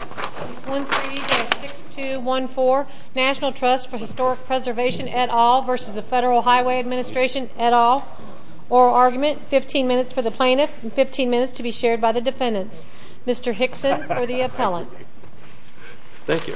Page 136214 National Trust for Historic Preservation et al. v. Federal Highway Administration et al. Oral argument, 15 minutes for the plaintiff and 15 minutes to be shared by the defendants. Mr. Hickson for the appellant. Thank you.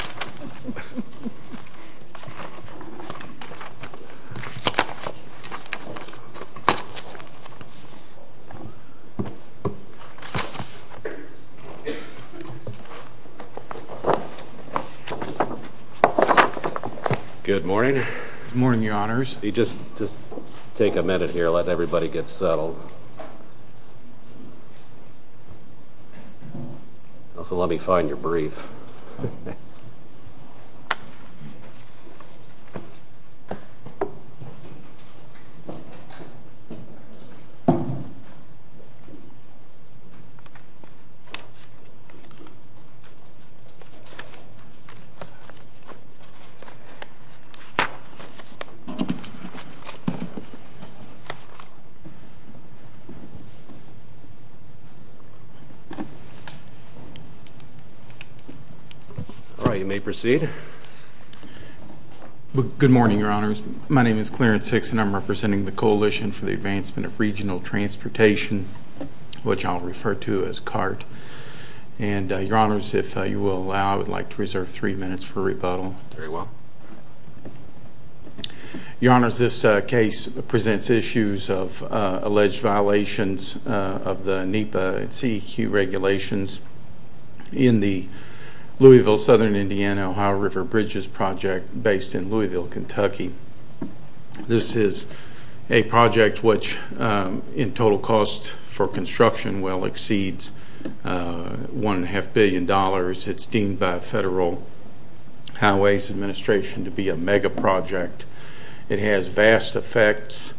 Good morning. Good morning, your honors. Just take a minute here, let everybody get settled. Also, let me find your brief. All right, you may proceed. Good morning, your honors. My name is Clarence Hickson. I'm representing the Coalition for the Advancement of Regional Transportation, which I'll refer to as CART. And your honors, if you will allow, I would like to reserve three minutes for rebuttal. Very well. Your honors, this case presents issues of alleged violations of the NEPA and CEQ regulations in the Louisville-Southern Indiana-Ohio River Bridges Project based in Louisville, Kentucky. This is a project which, in total cost for construction, well exceeds $1.5 billion. It's deemed by Federal Highway Administration to be a mega project. It has vast effects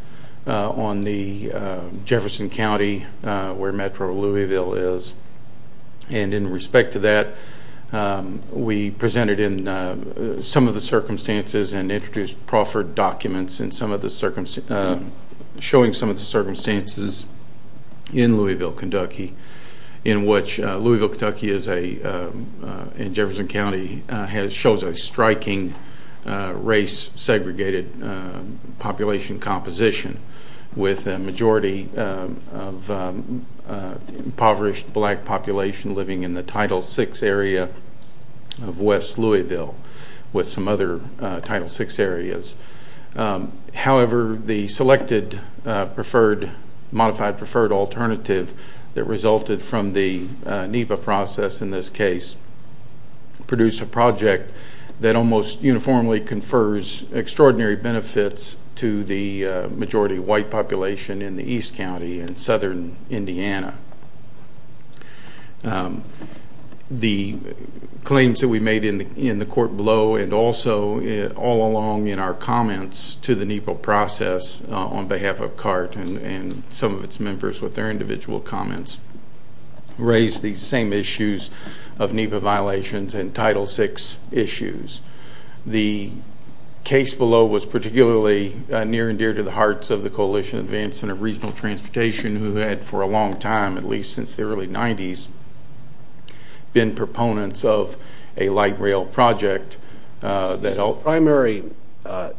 on the Jefferson County, where Metro Louisville is. And in respect to that, we presented in some of the circumstances and introduced proffered documents showing some of the circumstances in Louisville, Kentucky, in which Louisville, Kentucky and Jefferson County shows a striking race-segregated population composition with a majority of impoverished black population living in the Title VI area of West Louisville with some other Title VI areas. However, the selected modified preferred alternative that resulted from the NEPA process in this case produced a project that almost uniformly confers extraordinary benefits to the majority white population in the East County in Southern Indiana. The claims that we made in the court below and also all along in our comments to the NEPA process on behalf of CART and some of its members with their individual comments raised the same issues of NEPA violations and Title VI issues. The case below was particularly near and dear to the hearts of the Coalition of Advanced Center of Regional Transportation who had, for a long time, at least since the early 90s, been proponents of a light rail project. The primary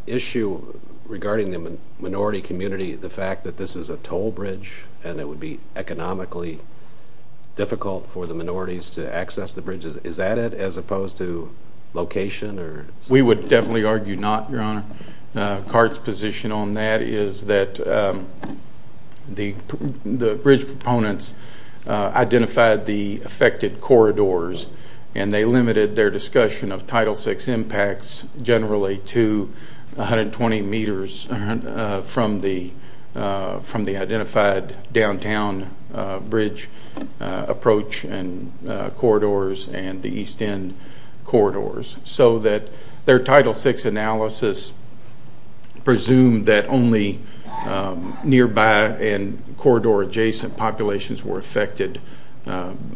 issue regarding the minority community, the fact that this is a toll bridge and it would be economically difficult for the minorities to access the bridges, is that it as opposed to location? We would definitely argue not, Your Honor. CART's position on that is that the bridge proponents identified the affected corridors and they limited their discussion of Title VI impacts generally to 120 meters from the identified downtown bridge approach and corridors and the East End corridors so that their Title VI analysis presumed that only nearby and corridor adjacent populations were affected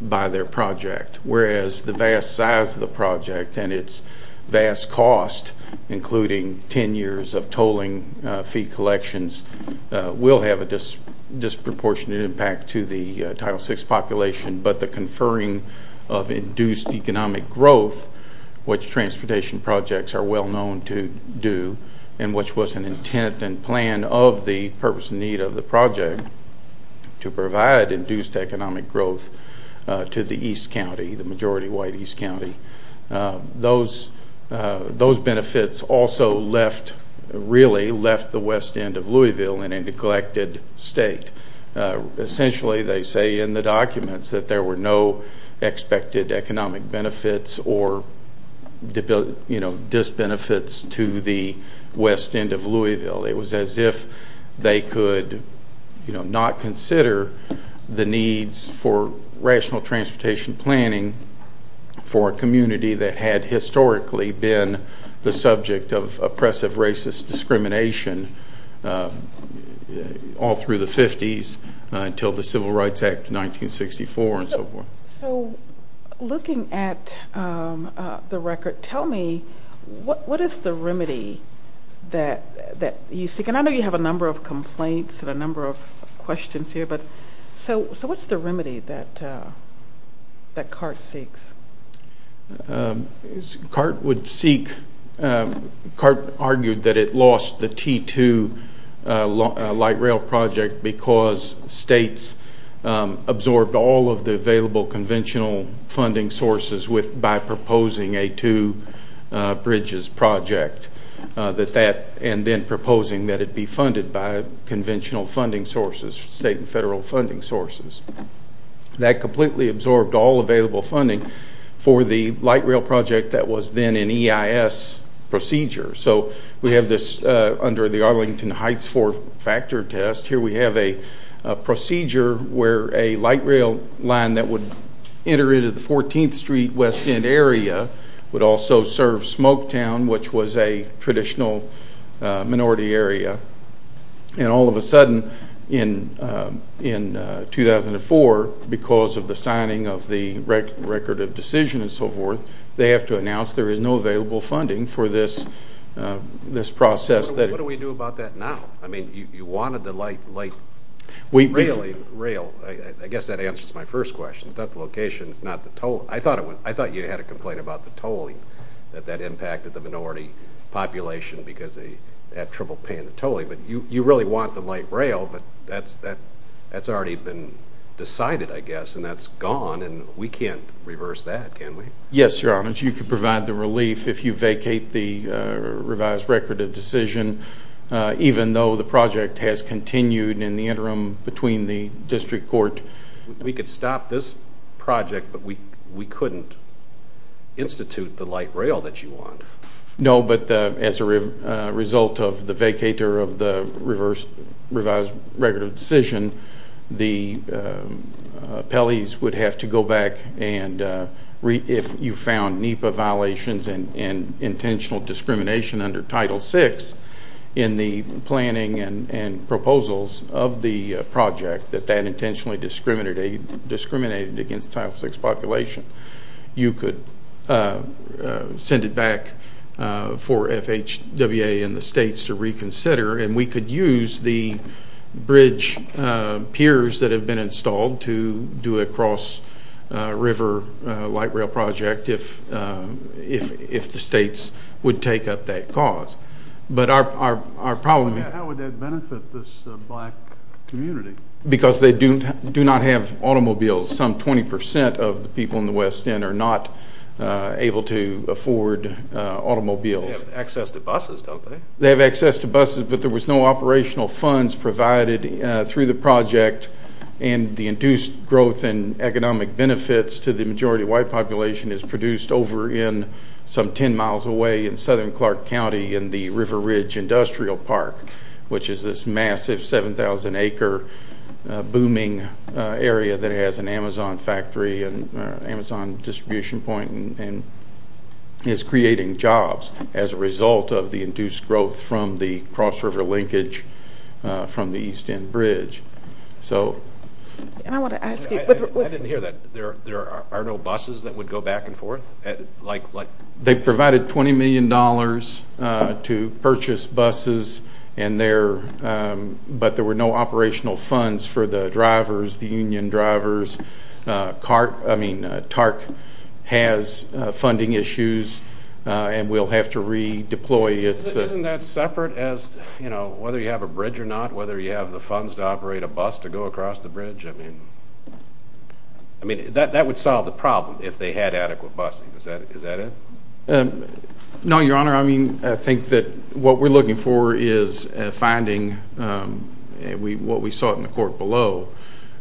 by their project. Whereas the vast size of the project and its vast cost, including 10 years of tolling fee collections, will have a disproportionate impact to the Title VI population, but the conferring of induced economic growth, which transportation projects are well known to do and which was an intent and plan of the purpose and need of the project to provide induced economic growth to the East County, the majority white East County. Those benefits also really left the West End of Louisville in a neglected state. Essentially, they say in the documents that there were no expected economic benefits or disbenefits to the West End of Louisville. It was as if they could not consider the needs for rational transportation planning for a community that had historically been the subject of oppressive racist discrimination all through the 50s until the Civil Rights Act of 1964 and so forth. So looking at the record, tell me what is the remedy that you seek? And I know you have a number of complaints and a number of questions here, but so what's the remedy that CART seeks? CART argued that it lost the T2 light rail project because states absorbed all of the available conventional funding sources by proposing a two bridges project and then proposing that it be funded by conventional funding sources, state and federal funding sources. That completely absorbed all available funding for the light rail project that was then an EIS procedure. So we have this under the Arlington Heights four-factor test. Here we have a procedure where a light rail line that would enter into the 14th Street West End area would also serve Smoketown, which was a traditional minority area. And all of a sudden in 2004, because of the signing of the record of decision and so forth, they have to announce there is no available funding for this process. What do we do about that now? I mean, you wanted the light rail. I guess that answers my first question. It's not the location, it's not the toll. I thought you had a complaint about the tolling, that that impacted the minority population because they had trouble paying the tolling. But you really want the light rail, but that's already been decided, I guess, and that's gone, and we can't reverse that, can we? Yes, Your Honor. Your Honor, you could provide the relief if you vacate the revised record of decision, even though the project has continued in the interim between the district court. We could stop this project, but we couldn't institute the light rail that you want. No, but as a result of the vacater of the revised record of decision, the appellees would have to go back and if you found NEPA violations and intentional discrimination under Title VI in the planning and proposals of the project that that intentionally discriminated against Title VI population, you could send it back for FHWA and the states to reconsider, and we could use the bridge piers that have been installed to do a cross-river light rail project if the states would take up that cause. But our problem... How would that benefit this black community? Because they do not have automobiles. Some 20% of the people in the West End are not able to afford automobiles. They have access to buses, don't they? They have access to buses, but there was no operational funds provided through the project, and the induced growth in economic benefits to the majority white population is produced over in some 10 miles away in southern Clark County in the River Ridge Industrial Park, which is this massive 7,000-acre booming area that has an Amazon factory and an Amazon distribution point and is creating jobs as a result of the induced growth from the cross-river linkage from the East End Bridge. I want to ask you... I didn't hear that. There are no buses that would go back and forth? They provided $20 million to purchase buses, but there were no operational funds for the drivers, the union drivers. TARC has funding issues, and we'll have to redeploy. Isn't that separate as to whether you have a bridge or not, whether you have the funds to operate a bus to go across the bridge? That would solve the problem if they had adequate busing. Is that it? No, Your Honor. I think that what we're looking for is finding what we sought in the court below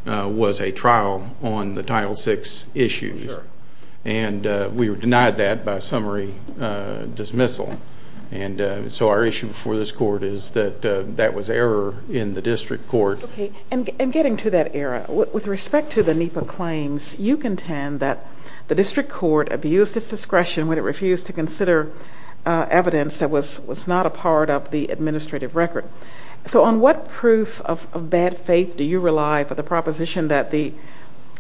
was a trial on the Title VI issues, and we were denied that by summary dismissal. So our issue before this court is that that was error in the district court. And getting to that error, with respect to the NEPA claims, you contend that the district court abused its discretion when it refused to consider evidence that was not a part of the administrative record. So on what proof of bad faith do you rely for the proposition that the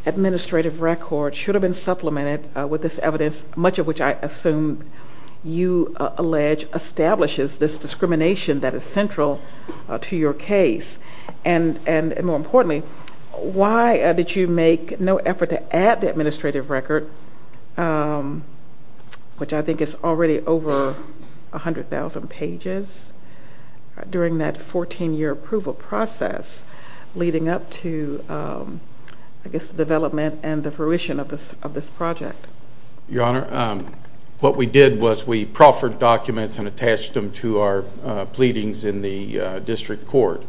administrative record should have been supplemented with this evidence, much of which I assume you allege establishes this discrimination that is central to your case? And more importantly, why did you make no effort to add the administrative record, which I think is already over 100,000 pages, during that 14-year approval process leading up to, I guess, the development and the fruition of this project? Your Honor, what we did was we proffered documents and attached them to our pleadings in the district court.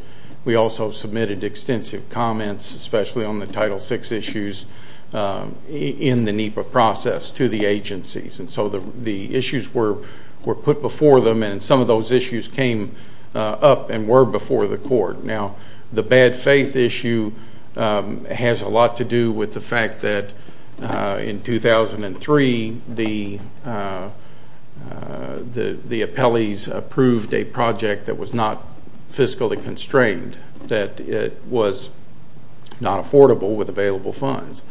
We also submitted extensive comments, especially on the Title VI issues, in the NEPA process to the agencies. And so the issues were put before them, and some of those issues came up and were before the court. Now, the bad faith issue has a lot to do with the fact that, in 2003, the appellees approved a project that was not fiscally constrained, that it was not affordable with available funds.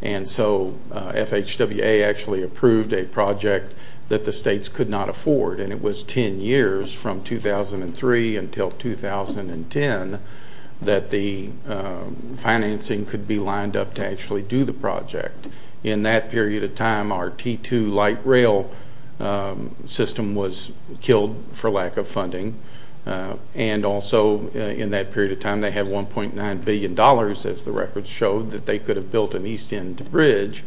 And so FHWA actually approved a project that the states could not afford, and it was 10 years from 2003 until 2010 that the financing could be lined up to actually do the project. In that period of time, our T2 light rail system was killed for lack of funding. And also, in that period of time, they had $1.9 billion, as the records showed, that they could have built an east end bridge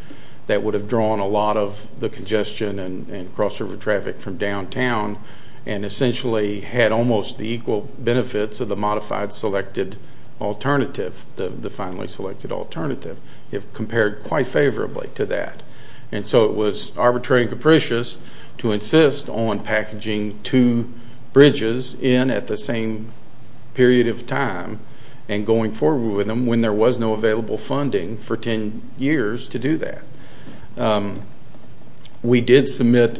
that would have drawn a lot of the congestion and cross-river traffic from downtown and essentially had almost the equal benefits of the modified selected alternative, the finally selected alternative. It compared quite favorably to that. And so it was arbitrary and capricious to insist on packaging two bridges in at the same period of time and going forward with them when there was no available funding for 10 years to do that. We did submit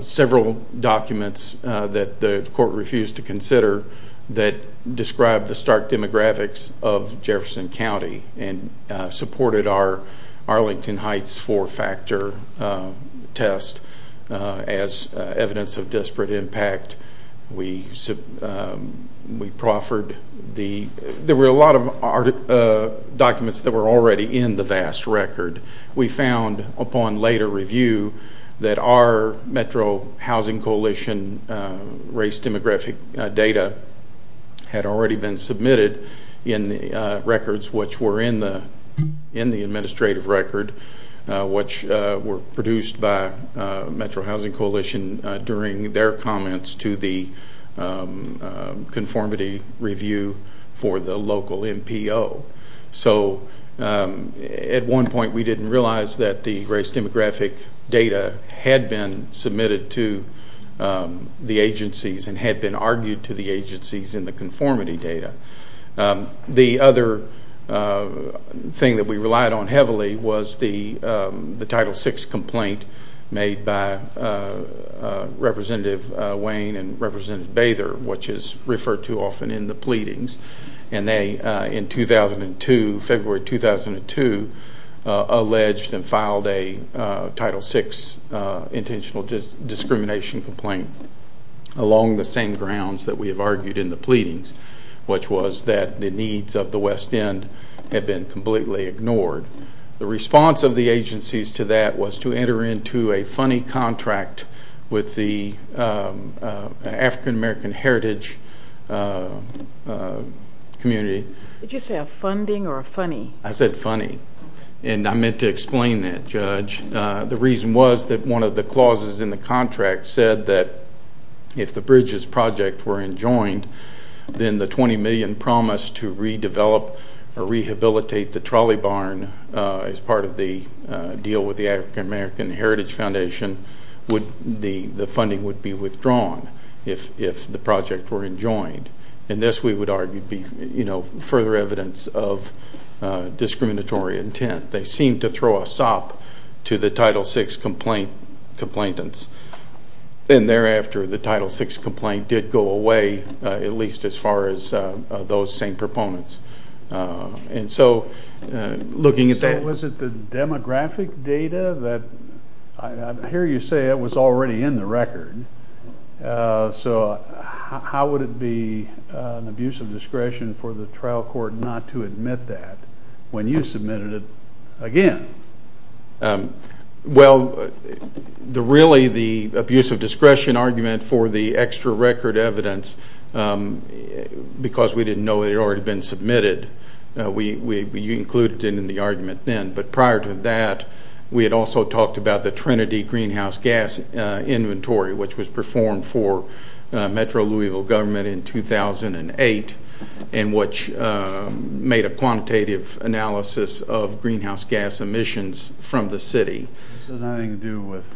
several documents that the court refused to consider that described the stark demographics of Jefferson County and supported Arlington Heights four-factor test as evidence of disparate impact. There were a lot of documents that were already in the vast record. We found upon later review that our Metro Housing Coalition race demographic data had already been submitted in the records which were in the administrative record, which were produced by Metro Housing Coalition during their comments to the conformity review for the local MPO. So at one point we didn't realize that the race demographic data had been submitted to the agencies and had been argued to the agencies in the conformity data. The other thing that we relied on heavily was the Title VI complaint made by Representative Wayne and Representative Bather, which is referred to often in the pleadings. And they, in 2002, February 2002, alleged and filed a Title VI intentional discrimination complaint along the same grounds that we have argued in the pleadings, which was that the needs of the West End had been completely ignored. The response of the agencies to that was to enter into a funny contract with the African American Heritage community. Did you say a funding or a funny? I said funny, and I meant to explain that, Judge. The reason was that one of the clauses in the contract said that if the Bridges Project were enjoined, then the $20 million promised to redevelop or rehabilitate the trolley barn as part of the deal with the African American Heritage Foundation the funding would be withdrawn if the project were enjoined. And this, we would argue, would be further evidence of discriminatory intent. They seemed to throw a sop to the Title VI complainants. And thereafter, the Title VI complaint did go away, at least as far as those same proponents. And so, looking at that. Was it the demographic data? I hear you say it was already in the record. So how would it be an abuse of discretion for the trial court not to admit that when you submitted it again? Well, really the abuse of discretion argument for the extra record evidence, because we didn't know it had already been submitted, we included it in the argument then. But prior to that, we had also talked about the Trinity Greenhouse Gas Inventory, which was performed for Metro Louisville government in 2008, and which made a quantitative analysis of greenhouse gas emissions from the city. So nothing to do with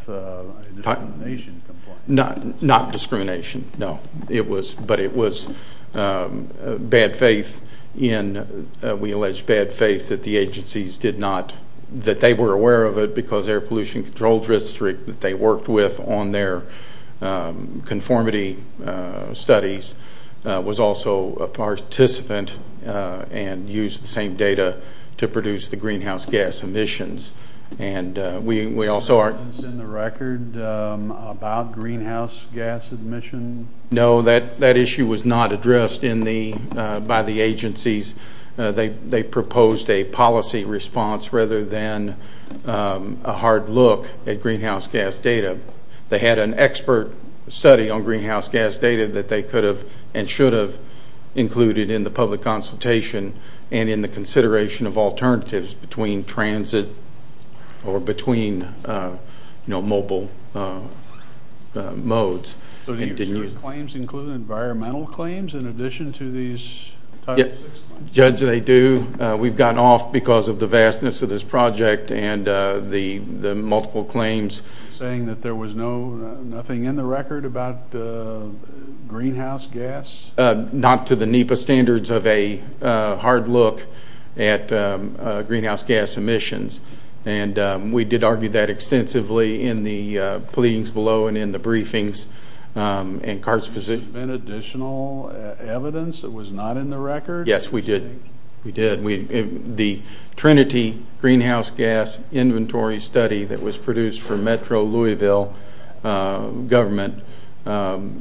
discrimination complaints? Not discrimination, no. But it was bad faith in, we allege, bad faith that the agencies did not, that they were aware of it because Air Pollution Control District, that they worked with on their conformity studies, was also a participant and used the same data to produce the greenhouse gas emissions. Is there evidence in the record about greenhouse gas emissions? No, that issue was not addressed by the agencies. They proposed a policy response rather than a hard look at greenhouse gas data. They had an expert study on greenhouse gas data that they could have and should have included in the public consultation and in the consideration of alternatives between transit or between mobile modes. So do your claims include environmental claims in addition to these type 6 claims? Judge, they do. We've gotten off because of the vastness of this project and the multiple claims. You're saying that there was nothing in the record about greenhouse gas? Not to the NEPA standards of a hard look at greenhouse gas emissions. And we did argue that extensively in the pleadings below and in the briefings. Was there additional evidence that was not in the record? Yes, we did. The Trinity Greenhouse Gas Inventory Study that was produced for Metro Louisville government.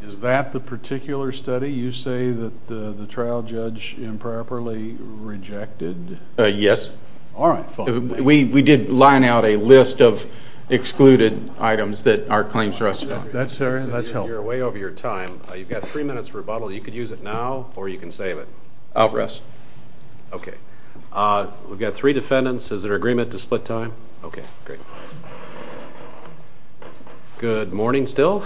Is that the particular study you say that the trial judge improperly rejected? Yes. All right, fine. We did line out a list of excluded items that our claims rest on. That's helpful. You're way over your time. You've got three minutes for rebuttal. You can use it now or you can save it. I'll rest. Okay. We've got three defendants. Is there agreement to split time? Okay, great. Good morning still.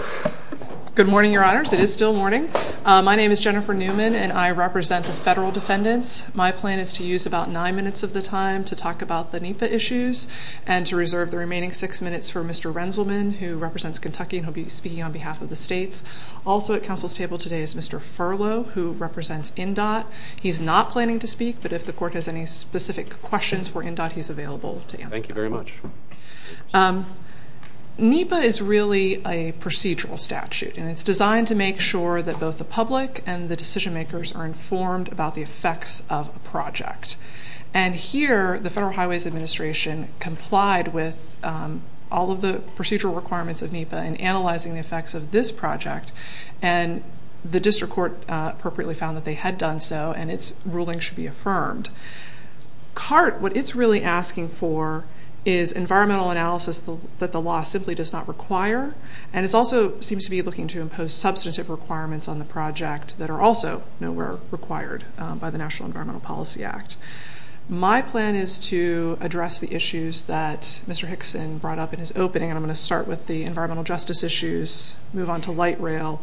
Good morning, Your Honors. It is still morning. My name is Jennifer Newman, and I represent the federal defendants. My plan is to use about nine minutes of the time to talk about the NEPA issues and to reserve the remaining six minutes for Mr. Rensselman, who represents Kentucky, and he'll be speaking on behalf of the states. Also at counsel's table today is Mr. Furlow, who represents NDOT. He's not planning to speak, but if the court has any specific questions for NDOT, he's available to answer them. Thank you very much. NEPA is really a procedural statute, and it's designed to make sure that both the public and the decision makers are informed about the effects of a project. And here the Federal Highways Administration complied with all of the procedural requirements of NEPA in analyzing the effects of this project, and the district court appropriately found that they had done so and its ruling should be affirmed. CART, what it's really asking for is environmental analysis that the law simply does not require, and it also seems to be looking to impose substantive requirements on the project that are also nowhere required by the National Environmental Policy Act. My plan is to address the issues that Mr. Hickson brought up in his opening, and I'm going to start with the environmental justice issues, move on to light rail,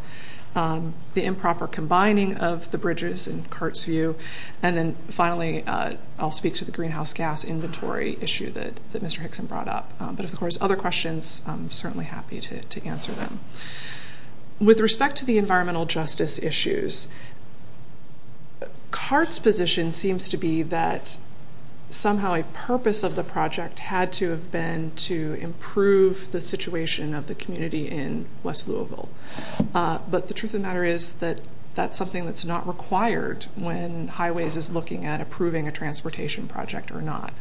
the improper combining of the bridges in CART's view, and then finally I'll speak to the greenhouse gas inventory issue that Mr. Hickson brought up. But if there's other questions, I'm certainly happy to answer them. With respect to the environmental justice issues, CART's position seems to be that somehow a purpose of the project had to have been to improve the situation of the community in West Louisville. But the truth of the matter is that that's something that's not required when Highways is looking at approving a transportation project or not.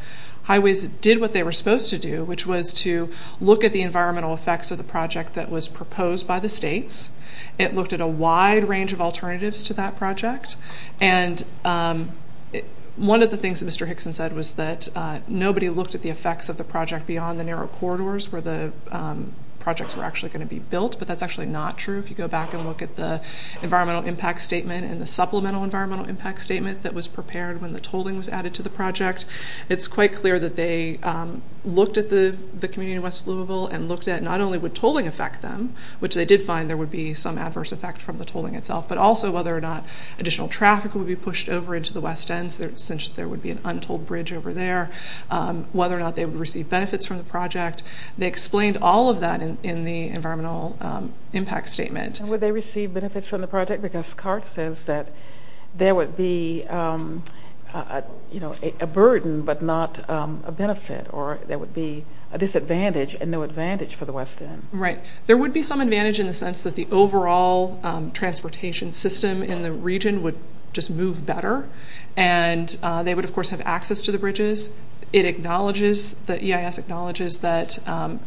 Highways did what they were supposed to do, which was to look at the environmental effects of the project that was proposed by the states. It looked at a wide range of alternatives to that project, and one of the things that Mr. Hickson said was that nobody looked at the effects of the project but that's actually not true. If you go back and look at the environmental impact statement and the supplemental environmental impact statement that was prepared when the tolling was added to the project, it's quite clear that they looked at the community in West Louisville and looked at not only would tolling affect them, which they did find there would be some adverse effect from the tolling itself, but also whether or not additional traffic would be pushed over into the West End since there would be an untold bridge over there, whether or not they would receive benefits from the project. They explained all of that in the environmental impact statement. And would they receive benefits from the project? Because CART says that there would be a burden but not a benefit, or there would be a disadvantage and no advantage for the West End. Right. There would be some advantage in the sense that the overall transportation system in the region would just move better, and they would of course have access to the bridges. It acknowledges, the EIS acknowledges that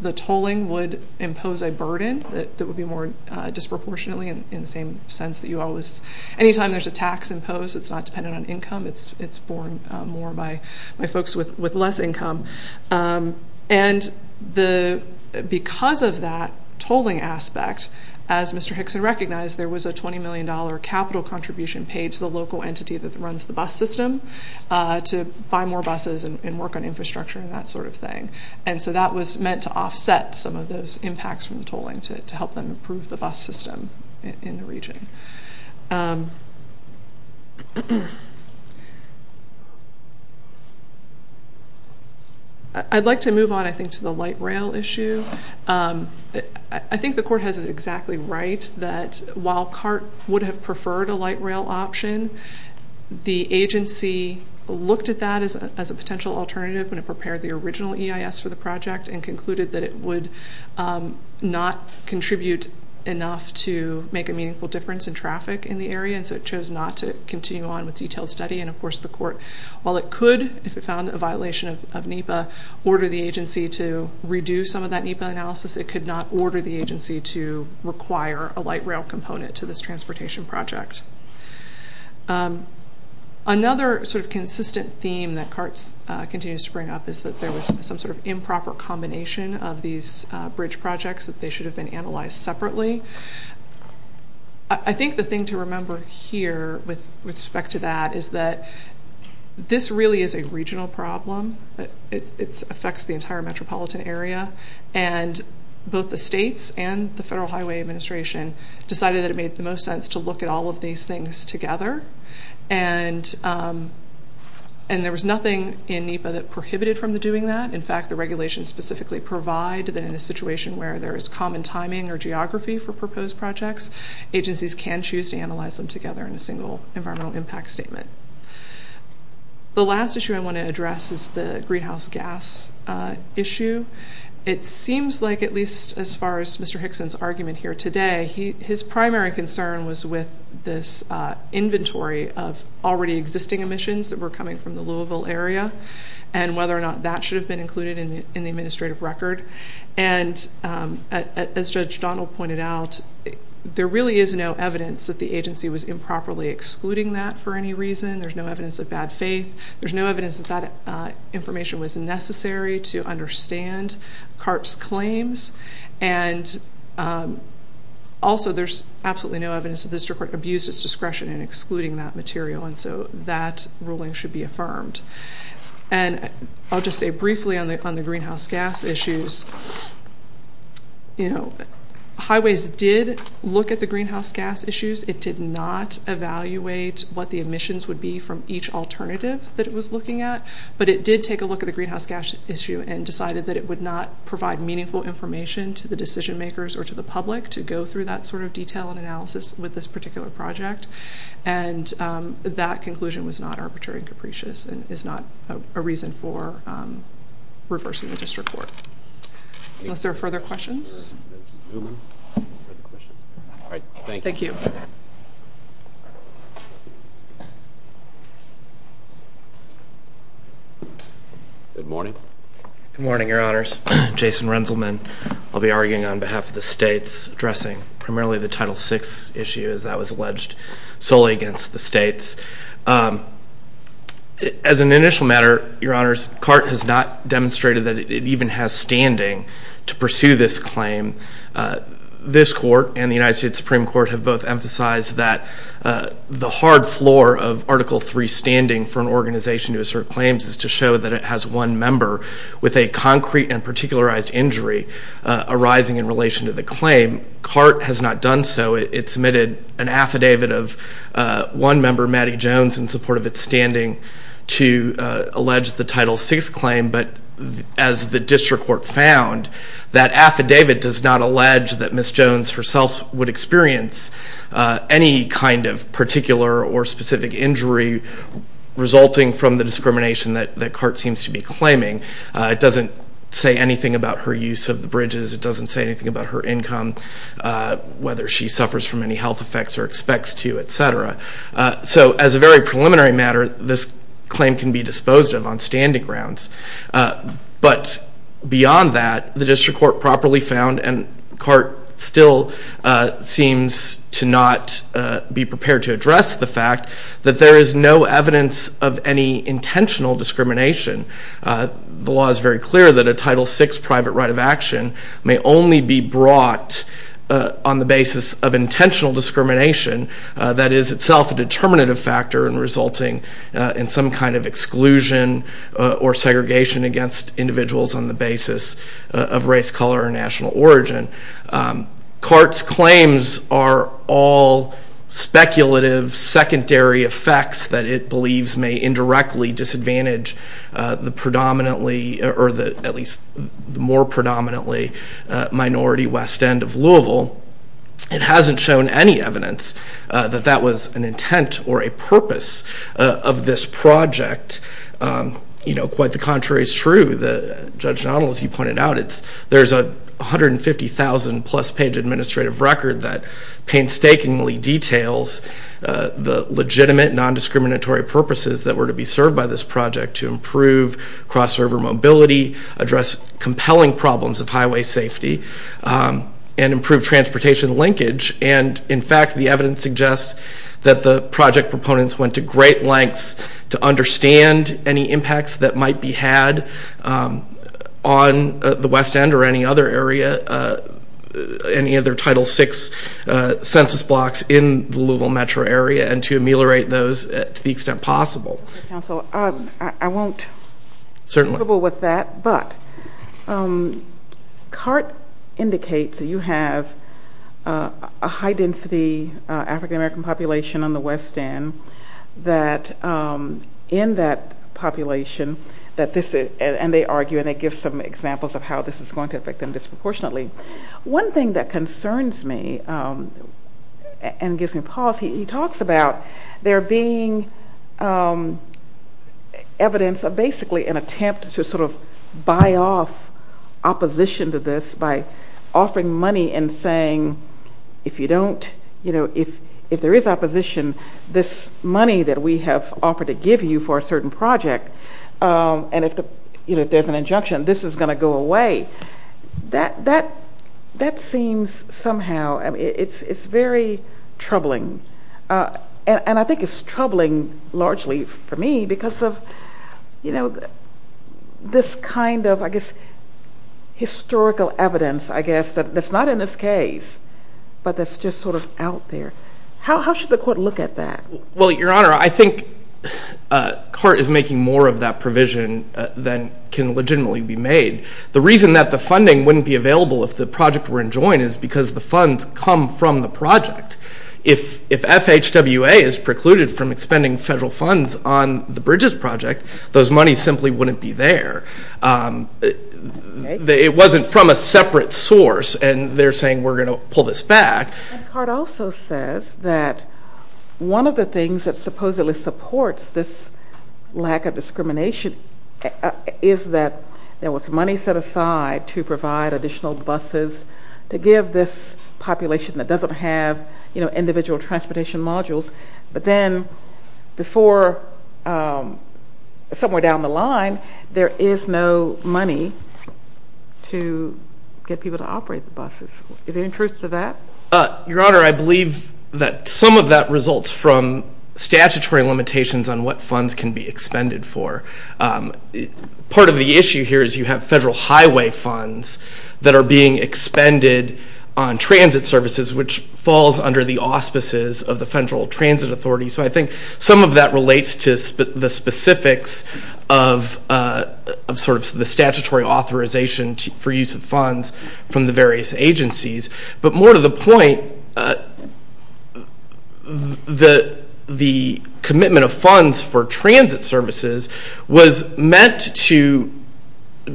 the tolling would impose a burden that would be more disproportionately in the same sense that you always, anytime there's a tax imposed, it's not dependent on income. It's borne more by folks with less income. And because of that tolling aspect, as Mr. Hickson recognized, there was a $20 million capital contribution paid to the local entity that runs the bus system to buy more buses and work on infrastructure and that sort of thing. And so that was meant to offset some of those impacts from the tolling to help them improve the bus system in the region. I'd like to move on, I think, to the light rail issue. I think the court has it exactly right that while CART would have preferred a light rail option, the agency looked at that as a potential alternative when it prepared the original EIS for the project and concluded that it would not contribute enough to make a meaningful difference in traffic in the area, and so it chose not to continue on with detailed study. And of course the court, while it could, if it found a violation of NEPA, order the agency to redo some of that NEPA analysis, it could not order the agency to require a light rail component to this transportation project. Another sort of consistent theme that CART continues to bring up is that there was some sort of improper combination of these bridge projects that they should have been analyzed separately. I think the thing to remember here with respect to that is that this really is a regional problem. It affects the entire metropolitan area, and both the states and the Federal Highway Administration decided that it made the most sense to look at all of these things together, and there was nothing in NEPA that prohibited from doing that. In fact, the regulations specifically provide that in a situation where there is common timing or geography for proposed projects, agencies can choose to analyze them together in a single environmental impact statement. The last issue I want to address is the greenhouse gas issue. It seems like at least as far as Mr. Hickson's argument here today, his primary concern was with this inventory of already existing emissions that were coming from the Louisville area and whether or not that should have been included in the administrative record. And as Judge Donald pointed out, there really is no evidence that the agency was improperly excluding that for any reason. There's no evidence of bad faith. There's no evidence that that information was necessary to understand CART's claims. And also, there's absolutely no evidence that the district court abused its discretion in excluding that material, and so that ruling should be affirmed. And I'll just say briefly on the greenhouse gas issues, you know, Highways did look at the greenhouse gas issues. It did not evaluate what the emissions would be from each alternative that it was looking at, but it did take a look at the greenhouse gas issue and decided that it would not provide meaningful information to the decision makers or to the public to go through that sort of detail and analysis with this particular project. And that conclusion was not arbitrary and capricious and is not a reason for reversing the district court. Unless there are further questions? Thank you. Thank you. Good morning. Good morning, Your Honors. Jason Renzelman. I'll be arguing on behalf of the states, addressing primarily the Title VI issue as that was alleged solely against the states. As an initial matter, Your Honors, CART has not demonstrated that it even has standing to pursue this claim. This court and the United States Supreme Court have both emphasized that the hard floor of Article III standing for an organization to assert claims is to show that it has one member with a concrete and particularized injury arising in relation to the claim. CART has not done so. It submitted an affidavit of one member, Mattie Jones, in support of its standing to allege the Title VI claim, but as the district court found, that affidavit does not allege that Ms. Jones herself would experience any kind of particular or specific injury resulting from the discrimination that CART seems to be claiming. It doesn't say anything about her use of the bridges. It doesn't say anything about her income, whether she suffers from any health effects or expects to, et cetera. So as a very preliminary matter, this claim can be disposed of on standing grounds. But beyond that, the district court properly found, and CART still seems to not be prepared to address the fact, that there is no evidence of any intentional discrimination. The law is very clear that a Title VI private right of action may only be brought on the basis of intentional discrimination, that is itself a determinative factor in resulting in some kind of exclusion or segregation against individuals on the basis of race, color, or national origin. CART's claims are all speculative, secondary effects that it believes may indirectly disadvantage the predominantly, or at least the more predominantly, minority West End of Louisville. It hasn't shown any evidence that that was an intent or a purpose of this project. Quite the contrary is true. Judge Donnell, as you pointed out, there's a 150,000 plus page administrative record that painstakingly details the legitimate non-discriminatory purposes that were to be served by this project to improve cross-river mobility, address compelling problems of highway safety, and improve transportation linkage, and in fact the evidence suggests that the project proponents went to great lengths to understand any impacts that might be had on the West End or any other area, any other Title VI census blocks in the Louisville metro area, and to ameliorate those to the extent possible. Thank you, Mr. Counsel. I won't be capable with that, but CART indicates that you have a high-density African-American population on the West End that in that population that this is, and they argue and they give some examples of how this is going to affect them disproportionately. One thing that concerns me and gives me pause, he talks about there being evidence of basically an attempt to sort of buy off opposition to this by offering money and saying, if there is opposition, this money that we have offered to give you for a certain project, and if there's an injunction, this is going to go away. That seems somehow, it's very troubling, and I think it's troubling largely for me because of, you know, this kind of, I guess, historical evidence, I guess, that's not in this case, but that's just sort of out there. How should the court look at that? Well, Your Honor, I think CART is making more of that provision than can legitimately be made. The reason that the funding wouldn't be available if the project were enjoined is because the funds come from the project. If FHWA is precluded from expending federal funds on the Bridges Project, those monies simply wouldn't be there. It wasn't from a separate source, and they're saying we're going to pull this back. And CART also says that one of the things that supposedly supports this lack of discrimination is that there was money set aside to provide additional buses to give this population that doesn't have, you know, individual transportation modules, but then before somewhere down the line, there is no money to get people to operate the buses. Is there any truth to that? Your Honor, I believe that some of that results from statutory limitations on what funds can be expended for. Part of the issue here is you have federal highway funds that are being expended on transit services, which falls under the auspices of the Federal Transit Authority. So I think some of that relates to the specifics of sort of the statutory authorization for use of funds from the various agencies. But more to the point, the commitment of funds for transit services was meant to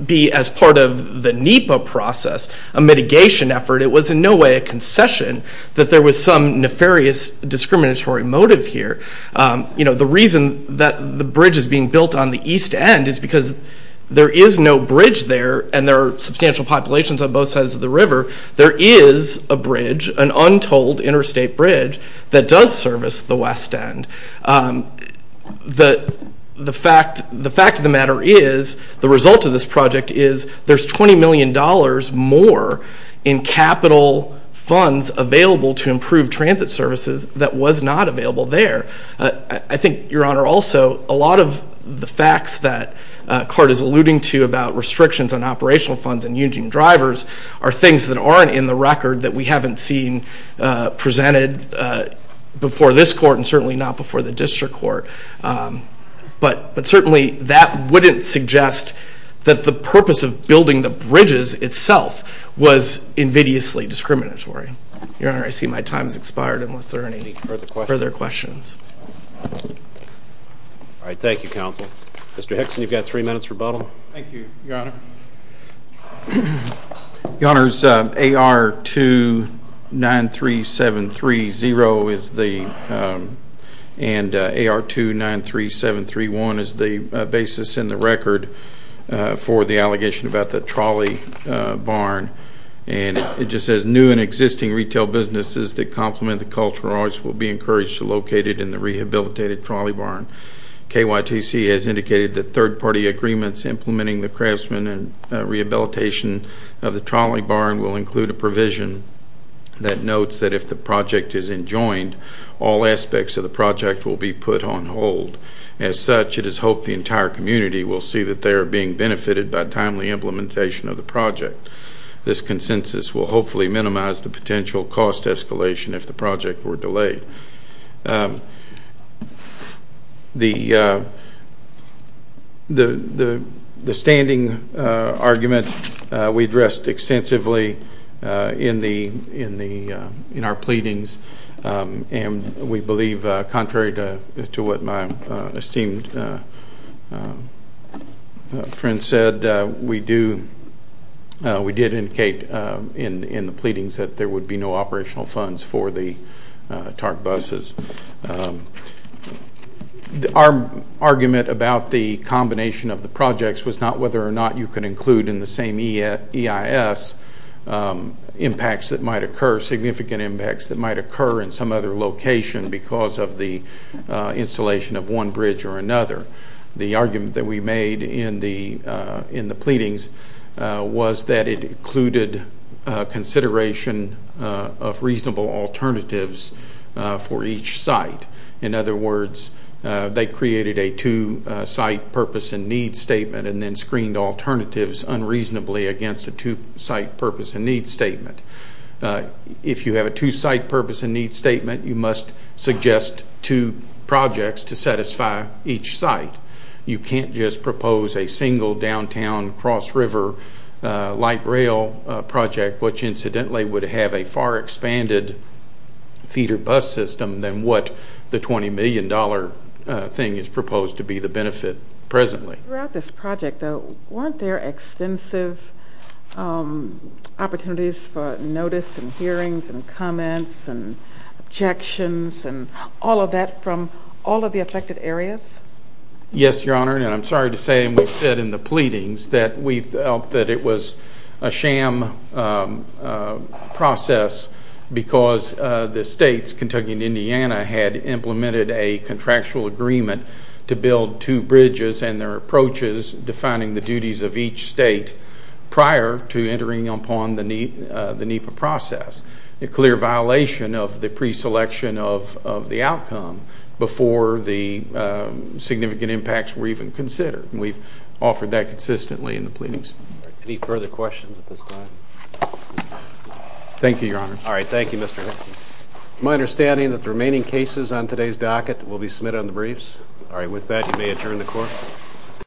be as part of the NEPA process, a mitigation effort. It was in no way a concession that there was some nefarious discriminatory motive here. You know, the reason that the bridge is being built on the east end is because there is no bridge there, there is a bridge, an untold interstate bridge that does service the west end. The fact of the matter is, the result of this project is, there's $20 million more in capital funds available to improve transit services that was not available there. I think, Your Honor, also a lot of the facts that CART is alluding to about restrictions on operational funds and union drivers are things that aren't in the record that we haven't seen presented before this court and certainly not before the district court. But certainly that wouldn't suggest that the purpose of building the bridges itself was invidiously discriminatory. Your Honor, I see my time has expired unless there are any further questions. All right, thank you, Counsel. Mr. Hickson, you've got three minutes rebuttal. Thank you, Your Honor. Your Honor, AR-293730 and AR-293731 is the basis in the record for the allegation about the trolley barn. And it just says, new and existing retail businesses that complement the cultural arts will be encouraged to locate it in the rehabilitated trolley barn. KYTC has indicated that third-party agreements implementing the craftsman and rehabilitation of the trolley barn will include a provision that notes that if the project is enjoined, all aspects of the project will be put on hold. As such, it is hoped the entire community will see that they are being benefited by timely implementation of the project. This consensus will hopefully minimize the potential cost escalation if the project were delayed. The standing argument we addressed extensively in our pleadings, and we believe contrary to what my esteemed friend said, we did indicate in the pleadings that there would be no operational funds for the TARP buses. Our argument about the combination of the projects was not whether or not you could include in the same EIS impacts that might occur, significant impacts that might occur in some other location because of the installation of one bridge or another. The argument that we made in the pleadings was that it included consideration of reasonable alternatives for each site. In other words, they created a two-site purpose and need statement and then screened alternatives unreasonably against a two-site purpose and need statement. If you have a two-site purpose and need statement, you must suggest two projects to satisfy each site. You can't just propose a single downtown cross-river light rail project, which incidentally would have a far expanded feeder bus system than what the $20 million thing is proposed to be the benefit presently. Throughout this project, though, weren't there extensive opportunities for notice and hearings and comments and objections and all of that from all of the affected areas? Yes, Your Honor, and I'm sorry to say, and we've said in the pleadings, that we felt that it was a sham process because the states, Kentucky and Indiana, had implemented a contractual agreement to build two bridges and their approaches defining the duties of each state prior to entering upon the NEPA process. It's a clear violation of the pre-selection of the outcome before the significant impacts were even considered, and we've offered that consistently in the pleadings. Any further questions at this time? Thank you, Your Honor. All right, thank you, Mr. Hicks. It's my understanding that the remaining cases on today's docket will be submitted on the briefs. All right, with that, you may adjourn the court.